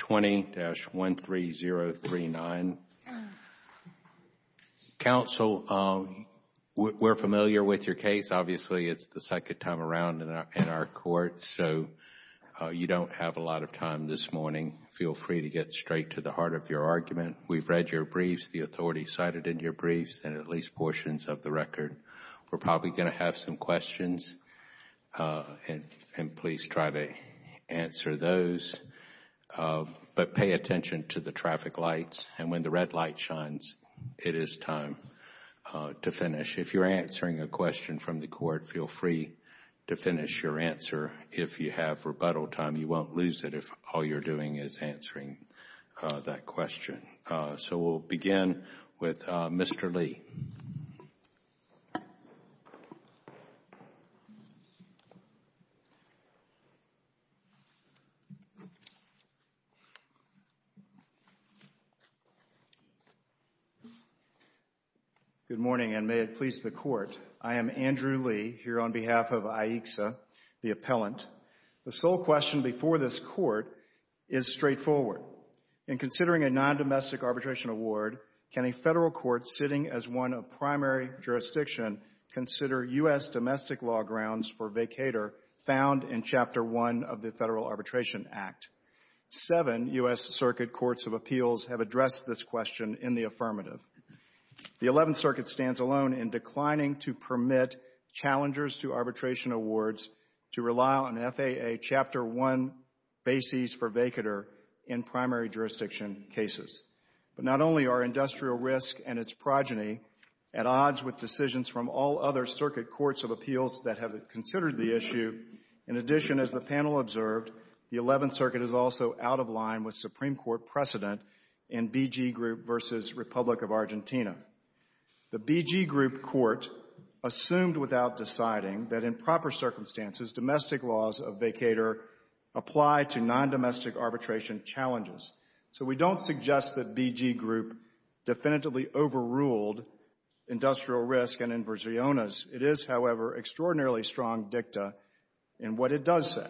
20-13039. Counsel, we're familiar with your case. Obviously, it's the second time around in our court, so you don't have a lot of time this morning. Feel free to get straight to the heart of your argument. We've read your briefs, the authority cited in your briefs, and at least portions of the record. We're probably going to have some questions, and please try to answer those. But pay attention to the traffic lights, and when the red light shines, it is time to finish. If you're answering a question from the court, feel free to finish your answer. If you have rebuttal time, you won't lose it if all you're doing is answering that question. So we'll begin with Mr. Lee. Good morning, and may it please the Court. I am Andrew Lee, here on behalf of AICSA, the appellant. The sole question before this Court is straightforward. In considering a non-domestic arbitration award, can a federal court sitting as one of primary jurisdiction consider U.S. domestic law grounds for vacator found in Chapter 1 of the Federal Arbitration Act? Seven, you may have heard of it. The 11th U.S. Circuit Courts of Appeals have addressed this question in the affirmative. The 11th Circuit stands alone in declining to permit challengers to arbitration awards to rely on FAA Chapter 1 bases for vacator in primary jurisdiction cases. But not only are industrial risk and its progeny at odds with decisions from all other Circuit Courts of Appeals that have considered the issue, in addition, as the panel observed, the 11th Circuit is also out of line with Supreme Court precedent in BG Group v. Republic of Argentina. The BG Group Court assumed without deciding that in proper circumstances domestic laws of vacator apply to non-domestic arbitration challenges. So we don't suggest that BG Group definitively overruled industrial risk and inversiones. It is, however, extraordinarily strong dicta in what it does say.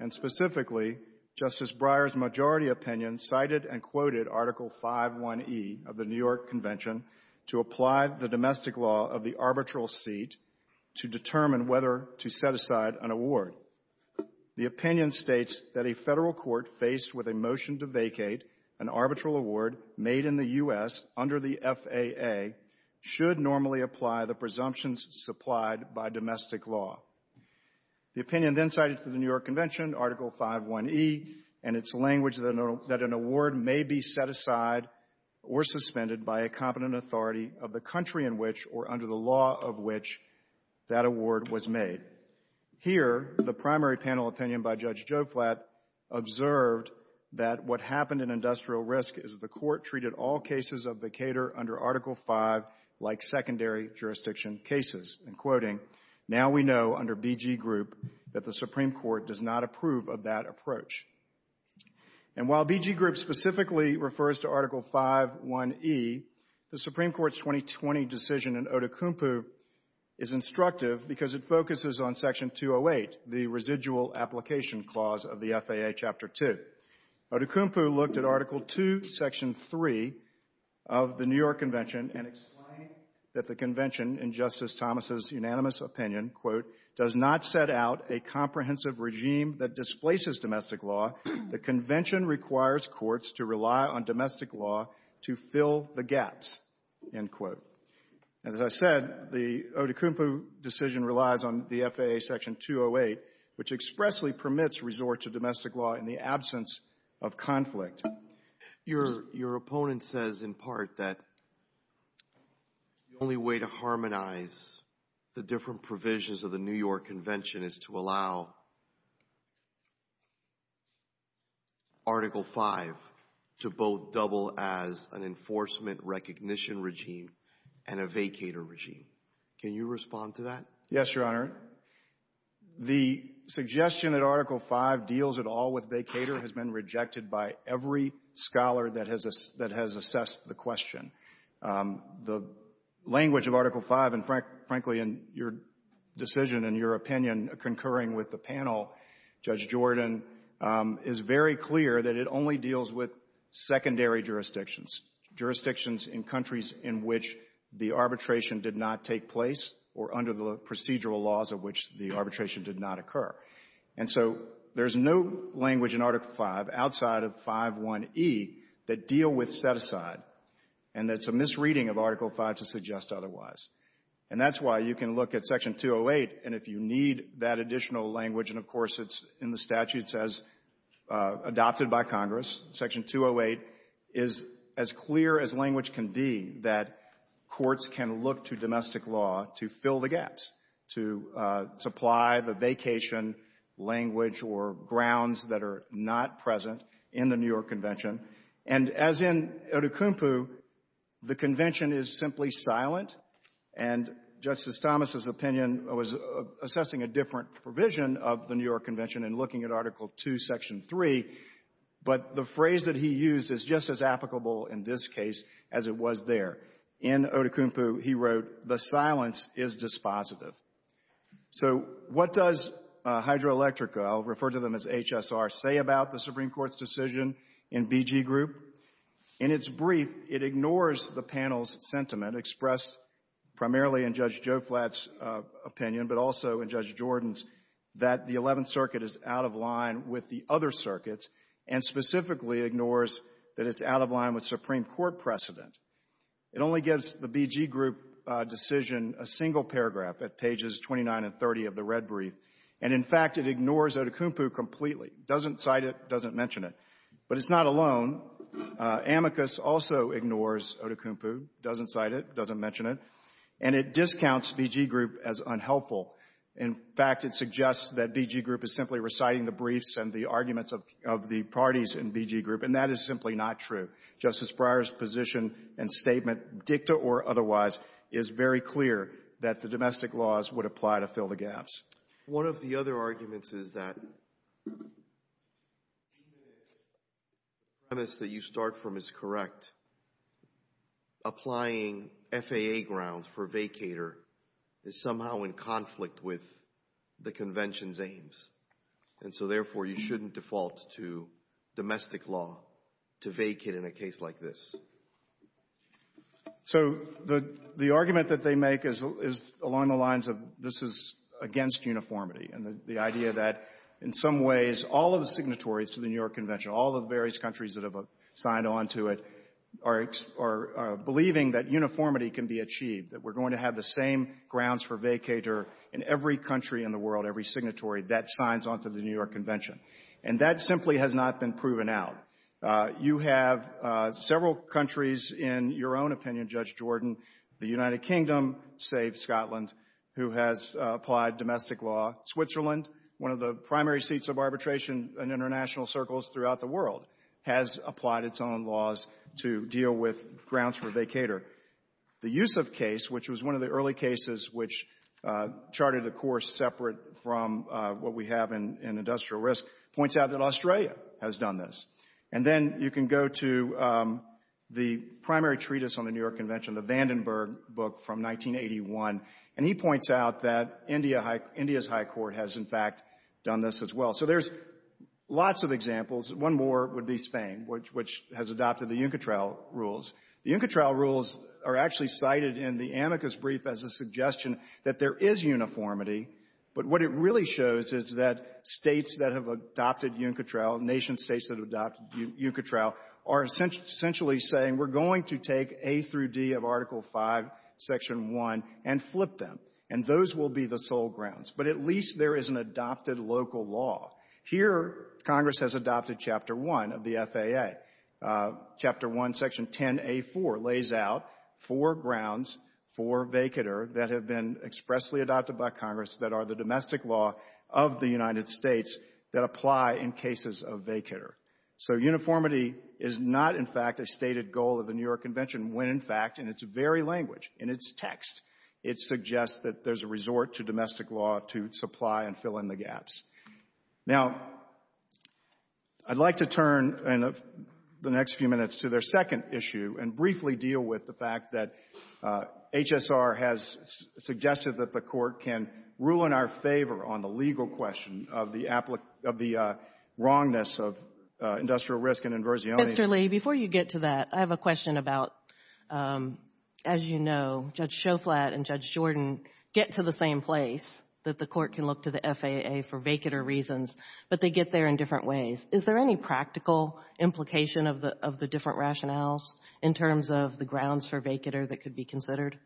And specifically, Justice Breyer's majority opinion cited and quoted Article 5.1e of the New York Convention to apply the domestic law of the arbitral seat to determine whether to set aside an award. The opinion states that a Federal court faced with a motion to vacate an arbitral award made in the U.S. under the FAA should normally apply the presumptions supplied by domestic law. The opinion then cited to the New York Convention, Article 5.1e, and its language that an award may be set aside or suspended by a competent authority of the country in which, or under the law of which, that award was made. Here, the primary panel opinion by Judge Joplat observed that what happened in industrial risk is that the Court treated all cases of vacator under Article 5 like secondary jurisdiction cases. And quoting, now we know under BG Group that the Supreme Court does not approve of that approach. And while BG Group specifically refers to Article 5.1e, the Supreme Court's 2020 decision in Odukunpu is instructive because it focuses on Section 208, the residual application clause of the FAA Chapter 2. Odukunpu looked at Article 2, Section 3 of the New York Convention and explained that the Convention, in Justice Thomas' unanimous opinion, quote, does not set out a comprehensive regime that displaces domestic law. The Convention requires courts to rely on domestic law to fill the gaps, end quote. As I said, the Odukunpu decision relies on the FAA Section 208, which expressly permits resort to domestic law in the absence of conflict. Your opponent says, in part, that the only way to harmonize the different provisions of the New York Convention is to allow Article 5 to both double as an enforcement recognition regime and a vacator regime. Can you respond to that? Yes, Your Honor. The suggestion that Article 5 deals at all with vacator has been rejected by every scholar that has assessed the question. The language of Article 5, and frankly, in your decision and your opinion, concurring with the panel, Judge Jordan, is very clear that it only deals with secondary jurisdictions, jurisdictions in countries in which the arbitration did not take place or under the procedural laws of which the arbitration did not occur. And so there's no language in Article 5 outside of 5.1e that deal with set-aside and that's a misreading of Article 5 to suggest otherwise. And that's why you can look at Section 208 and if you need that additional language and, of course, it's in the statute says adopted by Congress, Section 208 is as clear as language can be that courts can look to domestic law to fill the gaps, to supply the vacation language or grounds that are not present in the New York Convention. And as in Odukumpu, the Convention is simply silent and Justice Thomas's opinion was assessing a different provision of the New York Convention and looking at Article 2, Section 3, but the phrase that he used is just as applicable in this case as it was there. In Odukumpu, he wrote, the silence is dispositive. So what does Hydroelectrica, I'll refer to them as HSR, say about the Supreme Court's decision in BG Group? In its brief, it ignores the panel's sentiment expressed primarily in Judge Joe Flatt's opinion, but also in Judge Jordan's, that the Eleventh Circuit is out of line with the other circuits and specifically ignores that it's out of line with Supreme Court precedent. It only gives the BG Group decision a single paragraph at pages 29 and 30 of the red brief. And in fact, it ignores Odukumpu completely, doesn't cite it, doesn't mention it. But it's not alone. Amicus also ignores Odukumpu, doesn't cite it, doesn't mention it. And it discounts BG Group as unhelpful. In fact, it suggests that BG Group is simply reciting the briefs and the arguments of the parties in BG Group, and that is simply not true. Justice Breyer's position and statement, dicta or otherwise, is very clear that the domestic laws would apply to fill the gaps. One of the other arguments is that even if the premise that you start from is correct, applying FAA grounds for vacator is somehow in conflict with the Convention's aims. And so therefore, you shouldn't default to domestic law to vacate in a case like this. So the argument that they make is along the lines of this is against uniformity and the idea that in some ways all of the signatories to the New York Convention, all of the various countries that have signed on to it, are believing that uniformity can be achieved, that we're going to have the same grounds for vacator in every country in the world, every signatory that signs onto the New York Convention. And that simply has not been proven out. You have several countries, in your own opinion, Judge Jordan, the United Kingdom, save Scotland, who has applied domestic law. Switzerland, one of the primary seats of arbitration in international circles throughout the world, has applied its own laws to deal with grounds for vacator. The Yusuf case, which was one of the early cases which charted a course separate from what we have in industrial risk, points out that Australia has done this. And then you can go to the primary treatise on the New York Convention, the Vandenberg book from 1981. And he points out that India's High Court has in fact done this as well. So there's lots of examples. One more would be Spain, which has adopted the UNCATRAL rules. The UNCATRAL rules are actually cited in the amicus brief as a suggestion that there is uniformity. But what it really shows is that states that have adopted UNCATRAL, nation states that have adopted UNCATRAL are essentially saying we're going to take A through D of Article 5, Section 1, and flip them. And those will be the sole grounds. But at least there is an adopted local law. Here, Congress has adopted Chapter 1 of the FAA. Chapter 1, Section 10a4 lays out four grounds for vacator that have been expressly adopted by Congress that are the domestic law of the United States that apply in cases of vacator. So uniformity is not, in fact, a stated goal of the New York Convention when, in fact, in its very language, in its text, it suggests that there's a resort to domestic law to supply and fill in the gaps. Now, I'd like to turn the next few minutes to their second issue and briefly deal with the fact that HSR has suggested that the Court can rule in our favor on the legal question of the wrongness of industrial risk and inversionity. Mr. Lee, before you get to that, I have a question about, as you know, Judge Shoflat and Judge Jordan get to the same place that the Court can look to the FAA for vacator reasons, but they get there in different ways. Is there any practical implication of the different rationales in terms of the grounds for vacator that could be considered?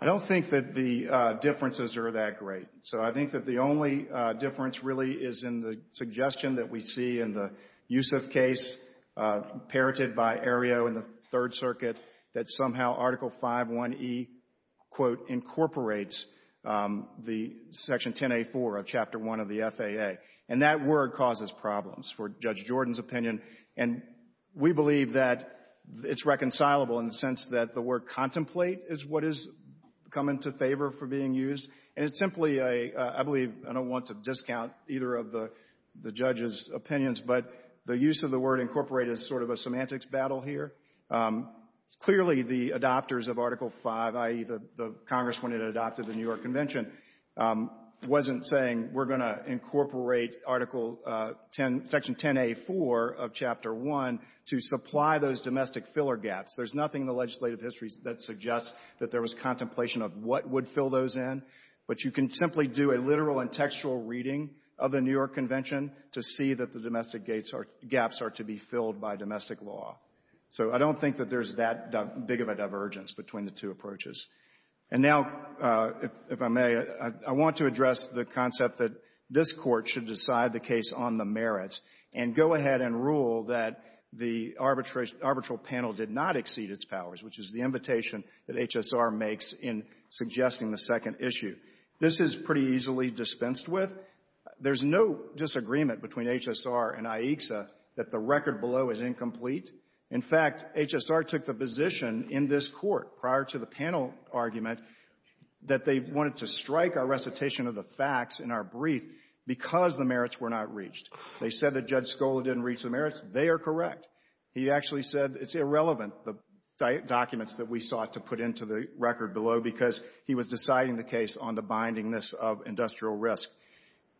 I don't think that the differences are that great. So I think that the only difference really is in the suggestion that we see in the Yusuf case, parroted by Areo in the Third Circuit, that somehow Article 5.1e, quote, incorporates the Section 10A4 of Chapter 1 of the FAA. And that word causes problems for Judge Jordan's opinion. And we believe that it's reconcilable in the sense that the word contemplate is what is coming to favor for being used. And it's simply a, I believe, I don't want to discount either of the judge's opinions, but the use of the word incorporate is sort of a semantics battle here. Clearly, the adopters of Article 5, i.e., the Congress, when it adopted the New York Convention, wasn't saying we're going to incorporate Article 10, Section 10A4 of Chapter 1 to supply those domestic filler gaps. There's nothing in the legislative history of what would fill those in. But you can simply do a literal and textual reading of the New York Convention to see that the domestic gates are, gaps are to be filled by domestic law. So I don't think that there's that big of a divergence between the two approaches. And now, if I may, I want to address the concept that this Court should decide the case on the merits and go ahead and rule that the arbitration, arbitral panel did not exceed its powers, which is the invitation that HSR makes in suggesting the second issue. This is pretty easily dispensed with. There's no disagreement between HSR and IHCSA that the record below is incomplete. In fact, HSR took the position in this Court, prior to the panel argument, that they wanted to strike our recitation of the facts in our brief because the merits were not reached. They said that Judge Scola didn't reach the merits. They are correct. He actually said it's irrelevant, the documents that we sought to put into the record below, because he was deciding the case on the bindingness of industrial risk.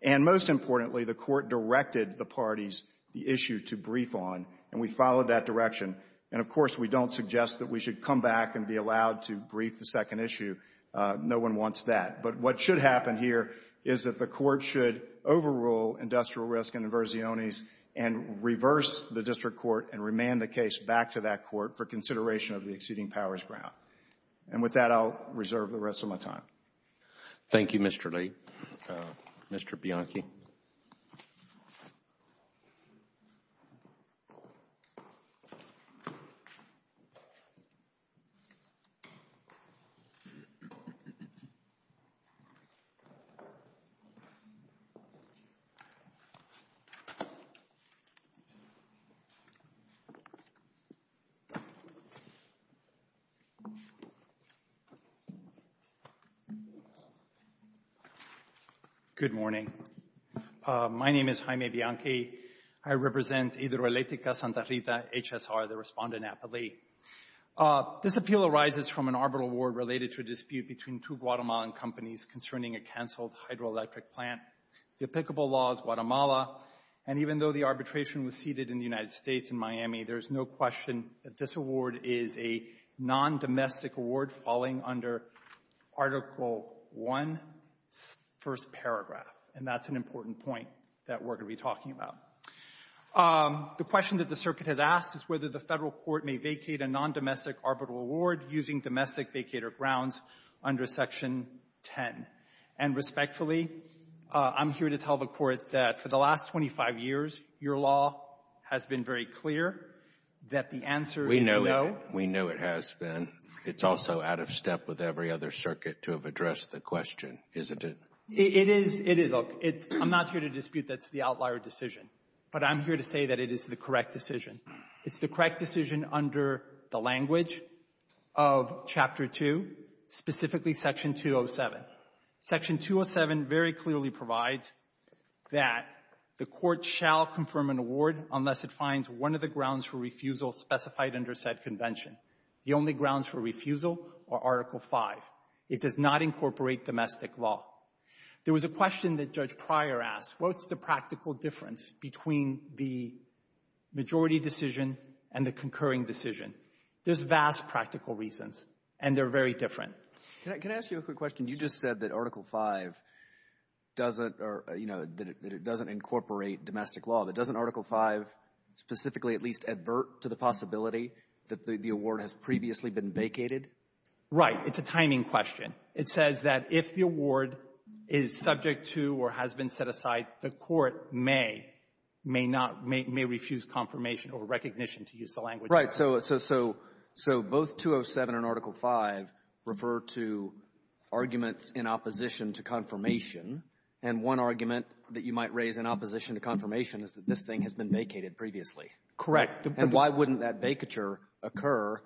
And most importantly, the Court directed the parties the issue to brief on, and we followed that direction. And of course, we don't suggest that we should come back and be allowed to brief the second issue. No one wants that. But what should happen here is that the Court should overrule industrial risk and inversiones and reverse the District Court and remand the case back to that Court for consideration of the exceeding powers ground. And with that, I'll reserve the rest of my time. Thank you, Mr. Lee. Mr. Bianchi. Good morning. My name is Jaime Bianchi. I represent Hidroeléctrica Santa Rita, HSR, the respondent at the Lee. This appeal arises from an arbitral award related to a dispute between two Guatemalan companies concerning a canceled hydroelectric plant. The applicable law is Guatemala. And even though the arbitration was seated in the United States, in Miami, there is no question that this award is a non-domestic award falling under Article I, first paragraph. And that's an important point that we're going to be talking about. The question that the Circuit has asked is whether the Federal Court may vacate a non-domestic arbitral award using domestic vacator grounds under Section 10. And respectfully, I'm here to tell the Court that for the last 25 years, your law has been very clear that the answer is no. We know it has been. It's also out of step with every other Circuit to have addressed the question, isn't it? It is. I'm not here to dispute that's the outlier decision, but I'm here to say that it is the correct decision. It's the correct decision under the language of Chapter 2, specifically Section 207. Section 207 very clearly provides that the Court shall confirm an award unless it finds one of the grounds for refusal specified under said convention. The only grounds for refusal are Article V. It does not incorporate domestic law. There was a question that Judge Pryor asked, what's the practical difference between the majority decision and the concurring decision? There's vast practical reasons, and they're very different. Can I ask you a quick question? You just said that Article V doesn't, or, you know, that it doesn't incorporate domestic law. But doesn't Article V specifically at least advert to the possibility that the award has previously been vacated? Right. It's a timing question. It says that if the award is subject to or has been set aside, the Court may, may not, may refuse confirmation or recognition to use the language. Right. So both 207 and Article V refer to arguments in opposition to confirmation. And one argument that you might raise in opposition to confirmation is that this thing has been vacated previously. Correct. And why wouldn't that vacature occur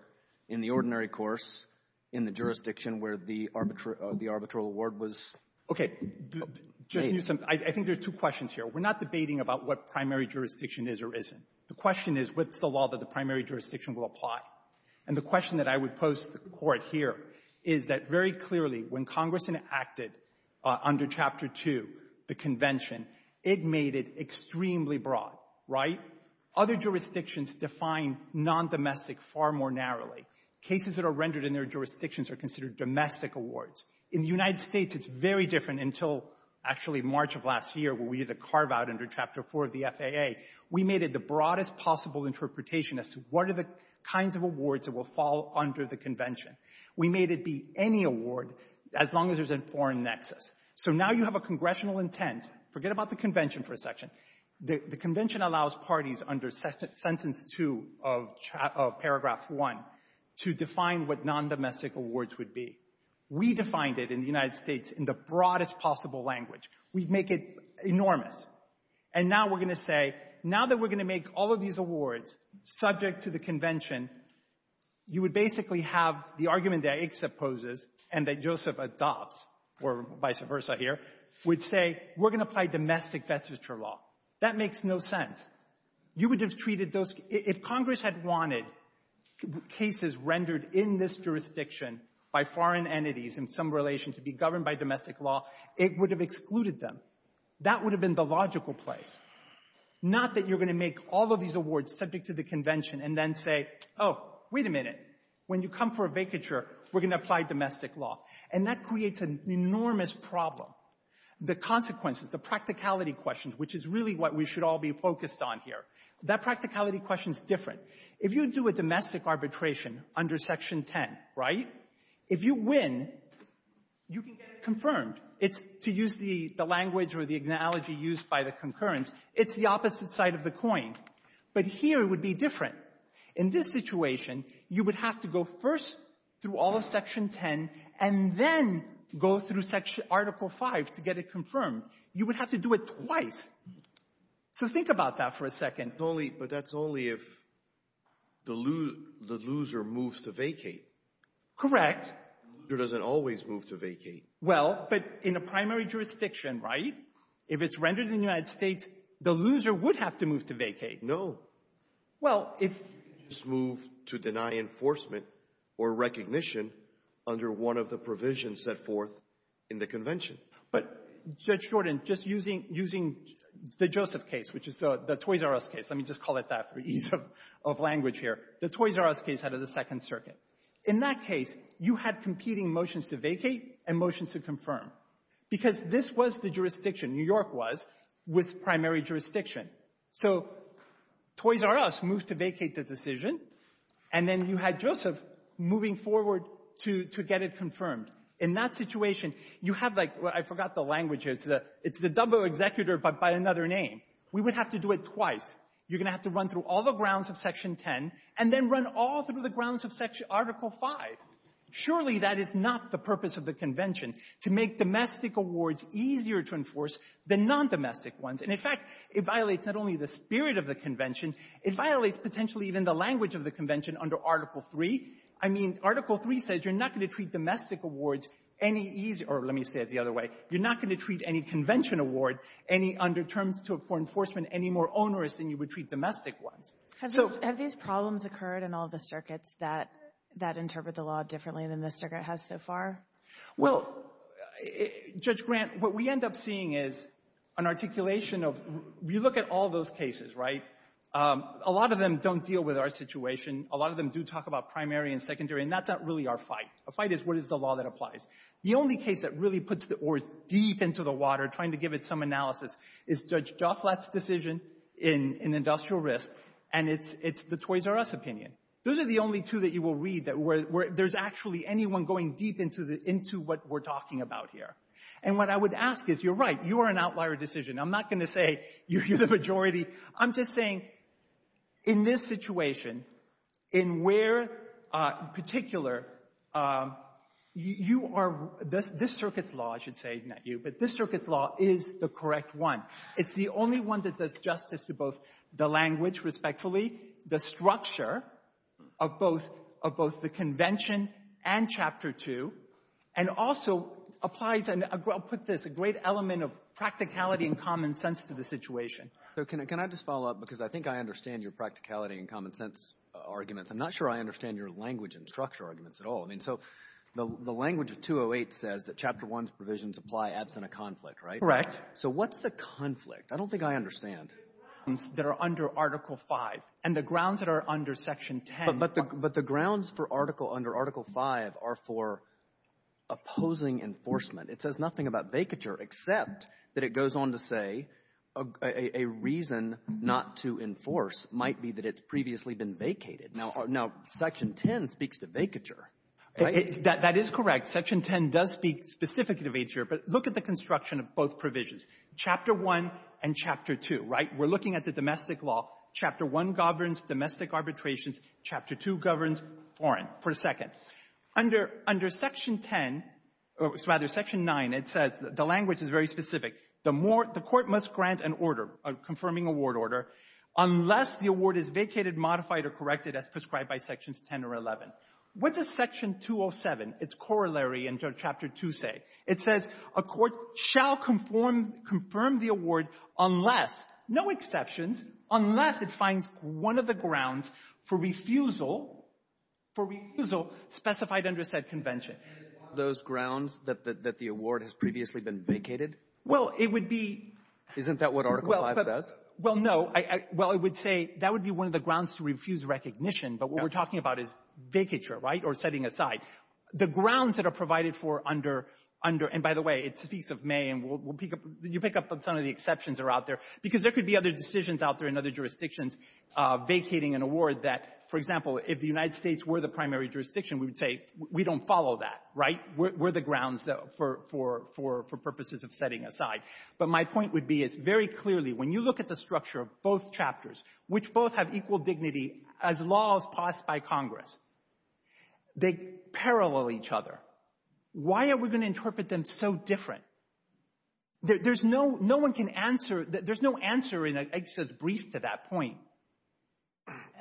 in the ordinary course in the jurisdiction where the arbitral award was made? Okay. I think there's two questions here. We're not debating about what primary jurisdiction is or isn't. The question is, what's the law that the primary jurisdiction will apply? And the question that I would pose to the Court here is that very clearly, when Congress enacted under Chapter 2, the Convention, it made it extremely broad. Right? Other jurisdictions define non-domestic far more narrowly. Cases that are rendered in their jurisdictions are considered domestic awards. In the United States, it's very different until actually March of last year, where we did a carve-out under Chapter 4 of the FAA. We made it the broadest possible interpretation as to what are the kinds of awards that will fall under the Convention. We made it be any award as long as there's a foreign nexus. So now you have a congressional intent. Forget about the Convention for a section. The Convention allows parties under Sentence 2 of Paragraph 1 to define what non-domestic awards would be. We defined it in the United States in the broadest possible language. We make it enormous. And now we're going to say, now that we're going to make all of these awards subject to the Convention, you would basically have the argument that ICSA poses and that Joseph adopts, or vice versa here, would say, we're going to apply domestic vestiture law. That makes no sense. You would have treated those... If Congress had wanted cases rendered in this jurisdiction by foreign entities in some relation to be governed by domestic law, it would have excluded them. That would have been the logical place. Not that you're going to make all of these awards subject to the Convention and then say, oh, wait a minute. When you come for a vacature, we're going to apply domestic law. And that creates an enormous problem. The consequences, the practicality questions, which is really what we should all be focused on here. That practicality question's different. If you do a domestic arbitration under Section 10, right, if you win, you can get it confirmed. It's, to use the language or the analogy used by the concurrence, it's the opposite side of the coin. But here it would be different. In this situation, you would have to go first through all of Section 10 and then go through Article 5 to get it confirmed. You would have to do it twice. So think about that for a second. But that's only if the loser moves to vacate. Correct. The loser doesn't always move to vacate. Well, but in a primary jurisdiction, right, if it's rendered in the United States, the loser would have to move to vacate. No. Well, if— Just move to deny enforcement or recognition under one of the provisions set forth in the Convention. But, Judge Jordan, just using the Joseph case, which is the Toys R Us case, let me just call it that for ease of language here, the Toys R Us case out of the Second Circuit. In that case, you had competing motions to vacate and motions to confirm because this was the jurisdiction, New York was, with primary jurisdiction. So Toys R Us moved to vacate the decision and then you had Joseph moving forward to get it confirmed. In that situation, you have, like, I forgot the language here. It's the double executor, but by another name. We would have to do it twice. You're going to have to run through all the grounds of Section 10 and then run all through the grounds of Article 5. Surely that is not the purpose of the Convention, to make domestic awards easier to enforce than non-domestic ones. And, in fact, it violates not only the spirit of the Convention, it violates potentially even the language of the Convention under Article 3. I mean, Article 3 says you're not going to treat domestic awards any easier. Or let me say it the other way. You're not going to treat any Convention award any, under terms for enforcement, any more onerous than you would treat domestic ones. So — Have these problems occurred in all the circuits that — that interpret the law differently than this circuit has so far? Well, Judge Grant, what we end up seeing is an articulation of — you look at all those cases, right? A lot of them don't deal with our situation. A lot of them do talk about primary and secondary, and that's not really our fight. Our fight is, what is the law that applies? The only case that really puts the oars deep into the water, trying to give it some analysis, is Judge Joflat's decision in industrial risk, and it's — it's the Toys R Us opinion. Those are the only two that you will read that were — there's actually anyone going deep into the — into what we're talking about here. And what I would ask is, you're right, you are an outlier decision. I'm not going to say you're the majority. I'm just saying, in this situation, in where, in particular, you are — this circuit's law, I should say, not you, but this circuit's law is the correct one. It's the only one that does justice to both the language, respectfully, the structure of both — of both the convention and Chapter 2, and also applies — and I'll put this — a great element of practicality and common sense to the situation. So can I just follow up? Because I think I understand your practicality and common sense arguments. I'm not sure I understand your language and structure arguments at all. So the language of 208 says that Chapter 1's provisions apply absent a conflict, right? Correct. So what's the conflict? I don't think I understand. The grounds that are under Article 5 and the grounds that are under Section 10. But the grounds for Article — under Article 5 are for opposing enforcement. It says nothing about vacature, except that it goes on to say a reason not to enforce might be that it's previously been vacated. Now, Section 10 speaks to vacature. That is correct. Section 10 does speak specifically to vacature. But look at the construction of both provisions, Chapter 1 and Chapter 2, right? We're looking at the domestic law. Chapter 1 governs domestic arbitrations. Chapter 2 governs foreign. For a second, under — under Section 10 — rather, Section 9, it says — the language is very specific. The more — the court must grant an order, a confirming award order, unless the award is vacated, modified or corrected as prescribed by Sections 10 or 11. What does Section 207, its corollary in Chapter 2, say? It says a court shall conform — confirm the award unless — no exceptions — unless it finds one of the grounds for refusal — for refusal specified under said convention. And it's one of those grounds that the award has previously been vacated? Well, it would be — Isn't that what Article 5 says? Well, no. Well, I would say that would be one of the grounds to refuse recognition. But what we're talking about is vacature, right, or setting aside. The grounds that are provided for under — under — and by the way, it speaks of May, and we'll pick up — you pick up on some of the exceptions that are out there because there could be other decisions out there in other jurisdictions vacating an award that, for example, if the United States were the primary jurisdiction, we would say, we don't follow that, right? We're the grounds for — for purposes of setting aside. But my point would be is very clearly, when you look at the structure of both chapters, which both have equal dignity as laws passed by Congress, they parallel each other. Why are we going to interpret them so different? There's no — no one can answer — there's no answer in a — it says brief to that point.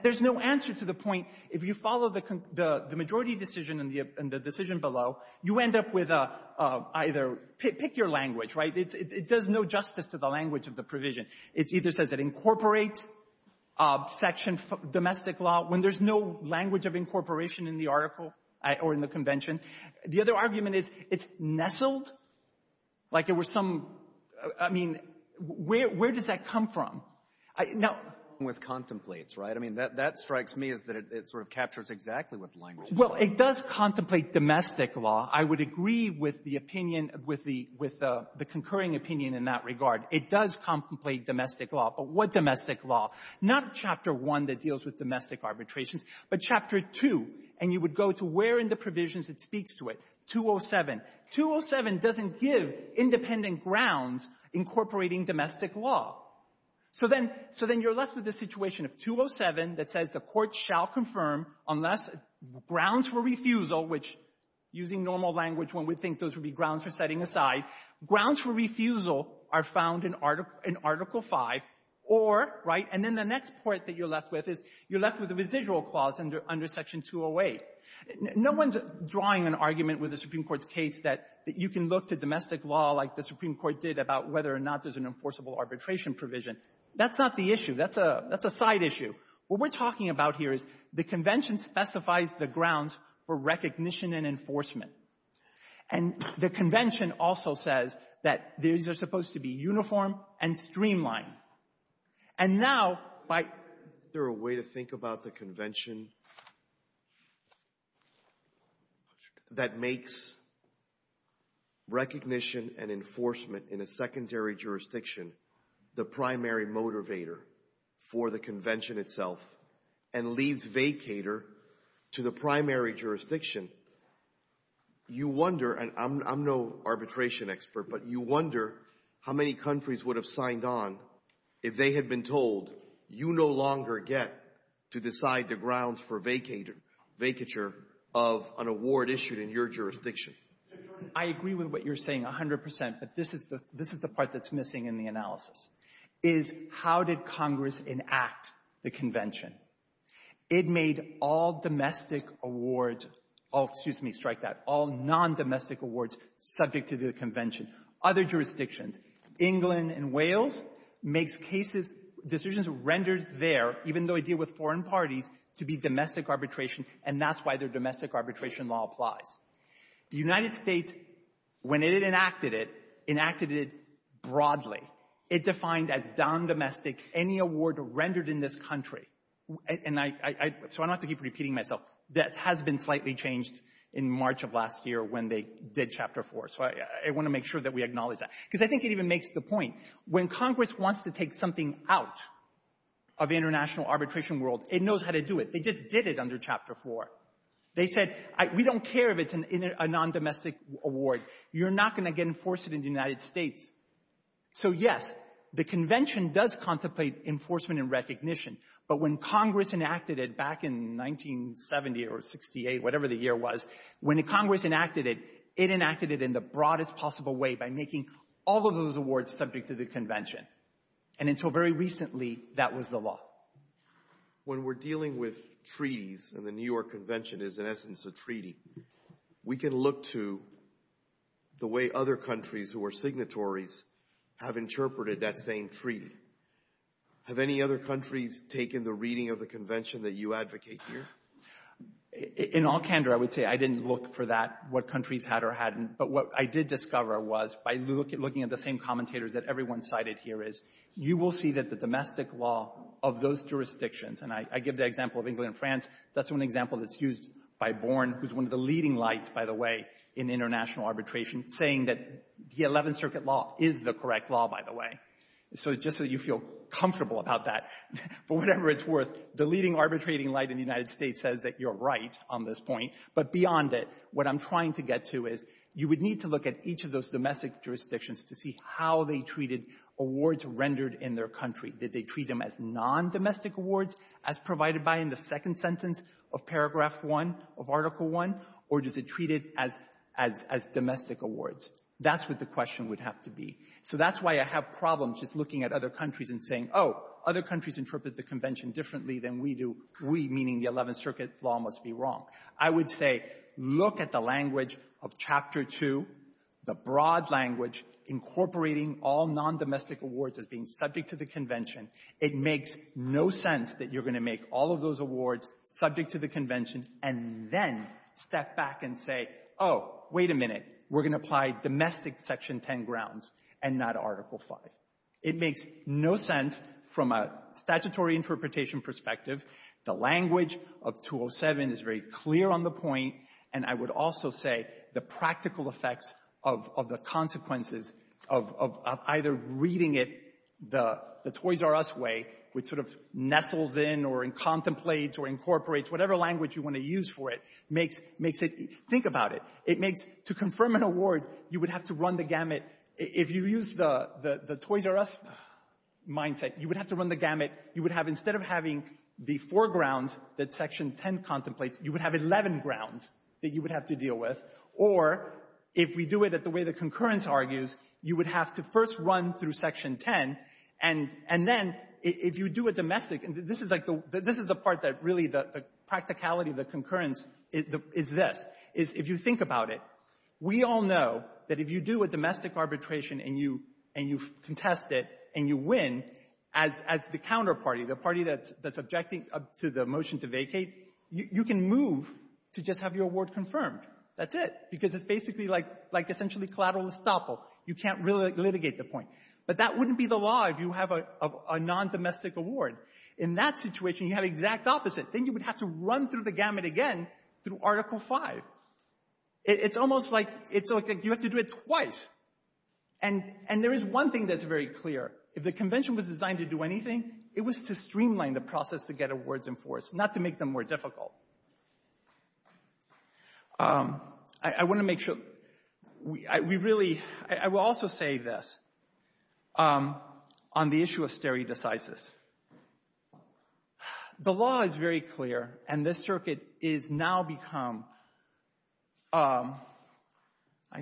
There's no answer to the point if you follow the — the majority decision and the — and the decision below, you end up with either — pick your language, right? It does no justice to the language of the provision. It either says it incorporates Section — domestic law when there's no language of incorporation in the article or in the convention. The other argument is it's nestled like it were some — I mean, where — where does that come from? Now — With contemplates, right? I mean, that — that strikes me as that it — it sort of captures exactly what the language is. Well, it does contemplate domestic law. I would agree with the opinion with the — with the concurring opinion in that regard. It does contemplate domestic law. But what domestic law? Not Chapter 1 that deals with domestic arbitrations, but Chapter 2. And you would go to where in the provisions it speaks to it. 207. 207 doesn't give independent grounds incorporating domestic law. So then — so then you're left with a situation of 207 that says the court shall confirm unless grounds for refusal, which, using normal language, one would think those would be grounds for setting aside. Grounds for refusal are found in Article — in Article 5 or — right? And then the next part that you're left with is you're left with a residual clause under — under Section 208. No one's drawing an argument with the Supreme Court's case that — that you can look to domestic law like the Supreme Court did about whether or not there's an enforceable arbitration provision. That's not the issue. That's a — that's a side issue. What we're talking about here is the Convention specifies the grounds for recognition and enforcement. And the Convention also says that these are supposed to be uniform and streamlined. And now, by — Alito, is there a way to think about the Convention that makes recognition and enforcement in a secondary jurisdiction the primary motivator for the Convention itself and leaves vacator to the primary jurisdiction? You wonder — and I'm — I'm no arbitration expert, but you wonder how many countries would have signed on if they had been told you no longer get to decide the grounds for vacator — vacature of an award issued in your jurisdiction. I agree with what you're saying, 100 percent. But this is the — this is the part that's missing in the analysis, is how did Congress enact the Convention? It made all domestic awards — oh, excuse me, strike that — all non-domestic awards subject to the Convention. Other jurisdictions — England and Wales makes cases — decisions rendered there, even though they deal with foreign parties, to be domestic arbitration, and that's why their domestic arbitration law applies. The United States, when it enacted it, enacted it broadly. It defined as non-domestic any award rendered in this country. And I — so I don't have to keep repeating myself. That has been slightly changed in March of last year when they did Chapter 4. So I want to make sure that we acknowledge that. Because I think it even makes the point, when Congress wants to take something out of the international arbitration world, it knows how to do it. They just did it under Chapter 4. They said, we don't care if it's a non-domestic award. You're not going to get enforced in the United States. So, yes, the Convention does contemplate enforcement and recognition. But when Congress enacted it back in 1970 or 68, whatever the year was, when Congress enacted it, it enacted it in the broadest possible way by making all of those awards subject to the Convention. And until very recently, that was the law. When we're dealing with treaties and the New York Convention is, in essence, a treaty, we can look to the way other countries who are signatories have interpreted that same treaty. Have any other countries taken the reading of the Convention that you advocate here? In all candor, I would say, I didn't look for that, what countries had or hadn't. But what I did discover was, by looking at the same commentators that everyone cited here is, you will see that the domestic law of those jurisdictions, and I give the example of England and France, that's one example that's used by Born, who's one of the leading lights, by the way, in international arbitration, saying that the 11th Circuit law is the correct law, by the way. So just so you feel comfortable about that, for whatever it's worth, the leading arbitrating light in the United States says that you're right on this point. But beyond it, what I'm trying to get to is, you would need to look at each of those domestic jurisdictions to see how they treated awards rendered in their country. Did they treat them as non-domestic awards as provided by in the second sentence of paragraph 1 of Article 1, or does it treat it as domestic awards? That's what the question would have to be. So that's why I have problems just looking at other countries and saying, oh, other countries interpret the Convention differently than we do, we meaning the 11th Circuit law must be wrong. I would say look at the language of Chapter 2, the broad language, incorporating all non-domestic awards as being subject to the Convention. It makes no sense that you're going to make all of those awards subject to the Convention and then step back and say, oh, wait a minute, we're going to apply domestic Section 10 grounds and not Article 5. It makes no sense from a statutory interpretation perspective. The language of 207 is very clear on the point, and I would also say the practical effects of the consequences of either reading it the Toys R Us way, which sort of nestles in or contemplates or incorporates whatever language you want to use for it, makes it, think about it, it makes to confirm an award, you would have to run the gamut. If you use the Toys R Us mindset, you would have to run the gamut. You would have instead of having the four grounds that Section 10 contemplates, you would have 11 grounds that you would have to deal with. Or if we do it at the way the concurrence argues, you would have to first run through Section 10, and then if you do a domestic, and this is like the — this is the part that really the practicality of the concurrence is this, is if you think about it, we all know that if you do a domestic arbitration and you contest it and you win, as the counterparty, the party that's objecting to the motion to vacate, you can move to just have your award confirmed. That's it. Because it's basically like, like essentially collateral estoppel. You can't really litigate the point. But that wouldn't be the law if you have a non-domestic award. In that situation, you have the exact opposite. Then you would have to run through the gamut again through Article 5. It's almost like, it's like you have to do it twice. And there is one thing that's very clear. If the convention was designed to do anything, it was to streamline the process to get awards enforced, not to make them more difficult. I want to make sure we really, I will also say this, on the issue of stare decisis. The law is very clear and this circuit is now become, I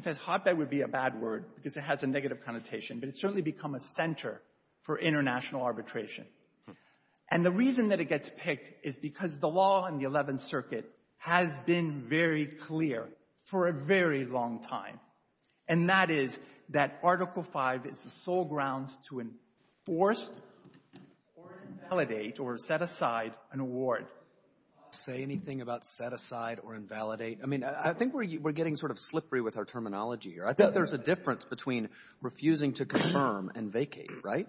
guess hotbed would be a bad word because it has a negative connotation, but it's certainly become a center for international arbitration. And the reason that it gets picked is because the law in the 11th Circuit has been very clear for a very long time. And that is that Article 5 is the sole grounds to enforce or invalidate or set aside an award. Say anything about set aside or invalidate? I mean, I think we're getting sort of slippery with our terminology here. I think there's a difference between refusing to confirm and vacate, right?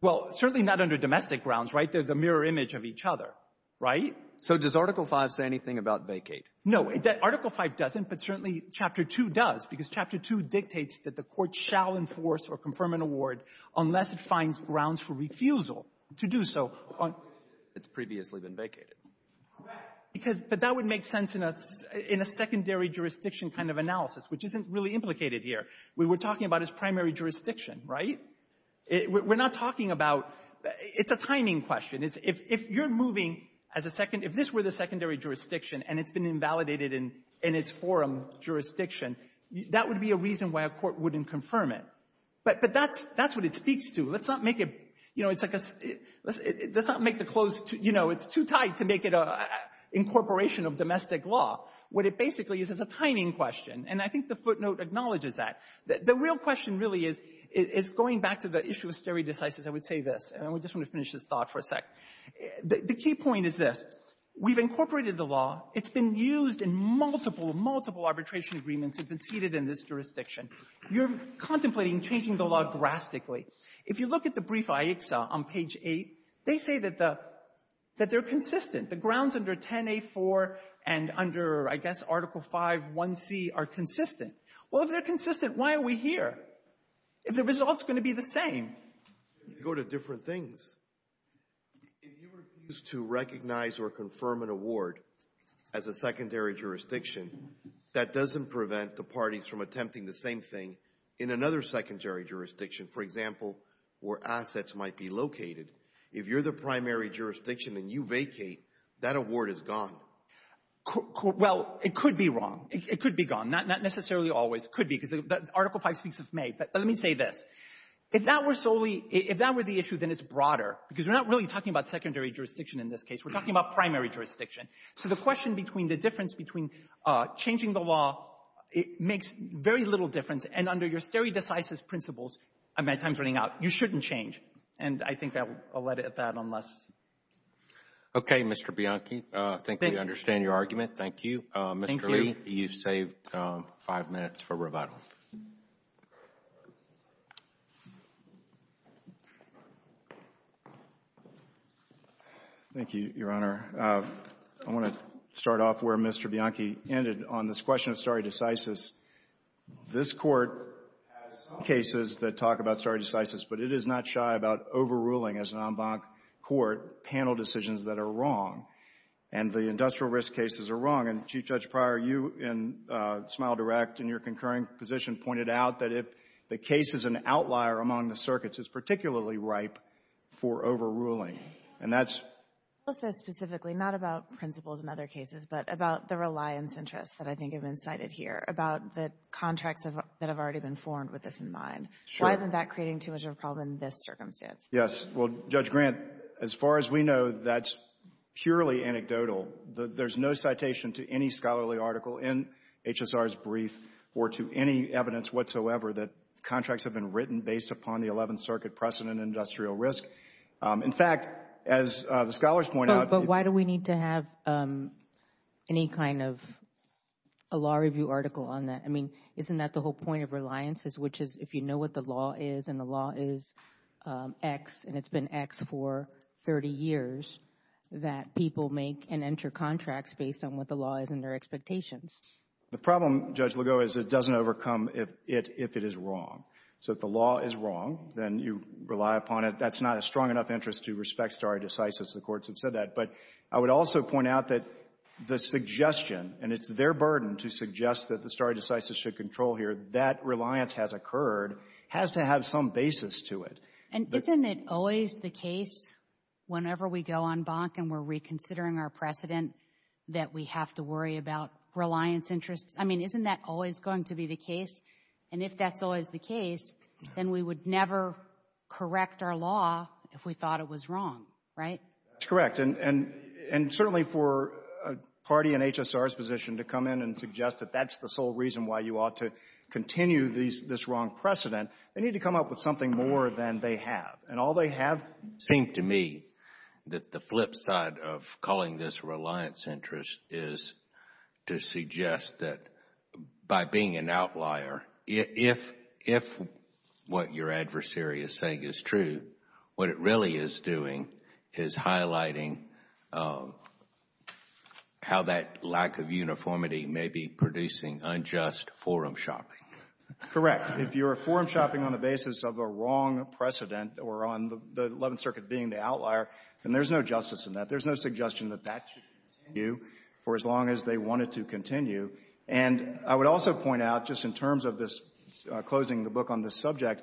Well, certainly not under domestic grounds, right? They're the mirror image of each other, right? So does Article 5 say anything about vacate? No, Article 5 doesn't, but certainly Chapter 2 does because Chapter 2 dictates that the court shall enforce or confirm an award unless it finds grounds for refusal to do so. It's previously been vacated. But that would make sense in a secondary jurisdiction kind of analysis, which isn't really implicated here. We were talking about his primary jurisdiction, right? We're not talking about it's a timing question. It's if you're moving as a second, if this were the secondary jurisdiction and it's been invalidated in its forum jurisdiction, that would be a reason why a court wouldn't confirm it. But that's what it speaks to. Let's not make it, you know, it's like a let's not make the close, you know, it's too tight to make it an incorporation of domestic law. What it basically is is a timing question. And I think the footnote acknowledges that. The real question really is going back to the issue of stare decisis. I would say this, and I just want to finish this thought for a sec. The key point is this. We've incorporated the law. It's been used in multiple, multiple arbitration agreements that have been seated in this jurisdiction. You're contemplating changing the law drastically. If you look at the brief IHCSA on page 8, they say that the that they're consistent. The grounds under 10a4 and under, I guess, Article 5.1c are consistent. Well, if they're consistent, why are we here? If the result's going to be the same. If you go to different things, if you refuse to recognize or confirm an award as a secondary jurisdiction, that doesn't prevent the parties from attempting the same thing in another secondary jurisdiction, for example, where assets might be located. If you're the primary jurisdiction and you vacate, that award is gone. Well, it could be wrong. It could be gone. Not necessarily always. It could be, because Article 5 speaks Let me say this. If that were solely if that were the issue, then it's broader, because we're not really talking about secondary jurisdiction in this case. We're talking about primary jurisdiction. So the question between the difference between changing the law, it makes very little difference. And under your stereo decisive principles, I'm at times running out, you shouldn't change. And I think I'll let it at that unless. Okay, Mr. Bianchi, I think we understand your argument. Thank you. Mr. Lee, you've saved five minutes for rebuttal. Thank you, Your Honor. I want to start off where Mr. Bianchi ended on this question of stare decisis. This court has some cases that talk about stare decisis, but it is not shy about overruling as an en banc court panel decisions that are wrong. And the industrial risk cases are wrong. And Chief Judge Pryor, you in Smile Direct in your concurring position pointed out that if the case is an outlier among the circuits, it's particularly ripe for overruling. And that's. I'll say specifically not about principles in other cases, but about the reliance interests that I think have been cited here about the contracts that have already been formed with this in mind. Why isn't that creating too much of a problem in this circumstance? Yes. Well, Judge Grant, as far as we know, that's purely anecdotal. There's no citation to any scholarly article in HSR's brief or to any evidence whatsoever that contracts have been written based upon the 11th Circuit precedent industrial risk. In fact, as the scholars point out. But why do we need to have any kind of a law review article on that? I mean, isn't that the whole point of reliance is which is if you know what the law is and the law is X and it's been X for 30 years that people make and enter contracts based on what the law is and their expectations. The problem, Judge Ligo, is it doesn't overcome if it is wrong. So if the law is wrong, then you rely upon it. That's not a strong enough interest to respect stare decisis. The courts have said that. But I would also point out that the suggestion and it's their burden to suggest that the stare decisis should control here that reliance has occurred has to have some basis to it. And isn't it always the case whenever we go on bonk and we're reconsidering our precedent that we have to worry about reliance interests? I mean, isn't that always going to be the case? And if that's always the case, then we would never correct our law if we thought it was wrong, right? That's correct. And certainly for a party in HSR's position to come in and suggest that that's the sole reason why you ought to continue this wrong precedent, they need to come up with something more than they have. And all they have seemed to me that the flip side of calling this reliance interest is to suggest that by being an outlier, if what your adversary is saying is true, what it really is doing is highlighting how that lack of uniformity may be producing unjust forum shopping. Correct. If you're forum shopping on the basis of a wrong precedent or on the Eleventh Circuit being the outlier, then there's no justice in that. There's no suggestion that that should continue. For as long as they want it to continue. And I would also point out, just in terms of this closing the book on this subject,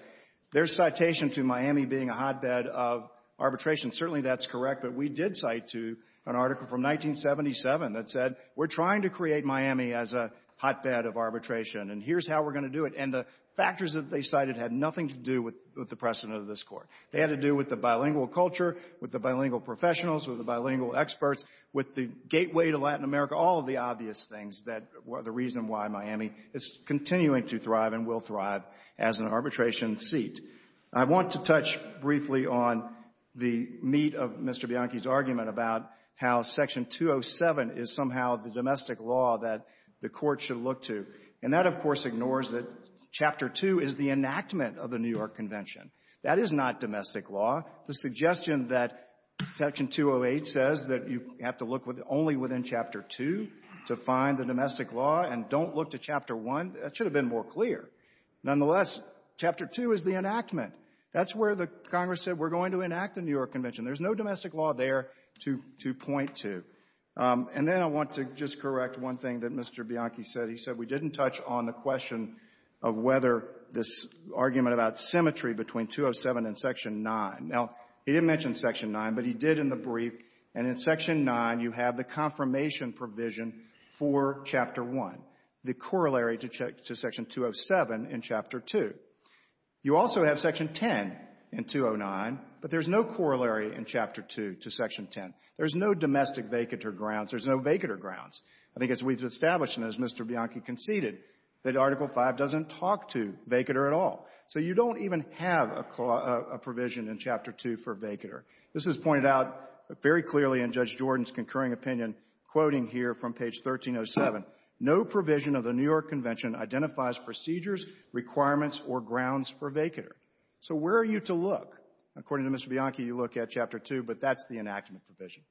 their citation to Miami being a hotbed of arbitration, certainly that's correct. But we did cite to an article from 1977 that said, we're trying to create Miami as a hotbed of arbitration and here's how we're going to do it. And the factors that they cited had nothing to do with the precedent of this Court. They had to do with the bilingual culture, with the bilingual professionals, with the bilingual experts, with the gateway to Latin America, all of the obvious things that were the reason why Miami is continuing to thrive and will thrive as an arbitration seat. I want to touch briefly on the meat of Mr. Bianchi's argument about how Section 207 is somehow the domestic law that the Court should look to. And that, of course, ignores that Chapter 2 is the enactment of the New York Convention. That is not domestic law. The suggestion that Section 208 says that you have to look only within Chapter 2 to find the domestic law and don't look to Chapter 1, that should have been more clear. Nonetheless, Chapter 2 is the enactment. That's where the Congress said we're going to enact the New York Convention. There's no domestic law there to point to. And then I want to just correct one thing that Mr. Bianchi said. He said we didn't touch on the question of whether this argument about symmetry between 207 and Section 9. Now, he didn't mention Section 9, but he did in the brief and in Section 9, you have the confirmation provision for Chapter 1, the corollary to Section 207 in Chapter 2. You also have Section 10 in 209, but there's no corollary in Chapter 2 to Section 10. There's no domestic vacatur grounds. There's no vacatur grounds. I think as we've established and as Mr. Bianchi conceded, that Article V doesn't talk to vacatur at all. So you don't even have a provision in Chapter 2 for vacatur. This is pointed out very clearly in Judge Jordan's concurring opinion, quoting here from page 1307. No provision of the New York Convention identifies procedures, requirements, or grounds for vacatur. So where are you to look? According to Mr. Bianchi, you look at Chapter 2, but that's the enactment provision.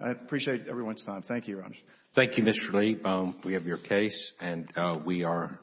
I appreciate everyone's time. Thank you, Your Honor. Roberts. Thank you, Mr. Lee. We have your case, and we are adjourned.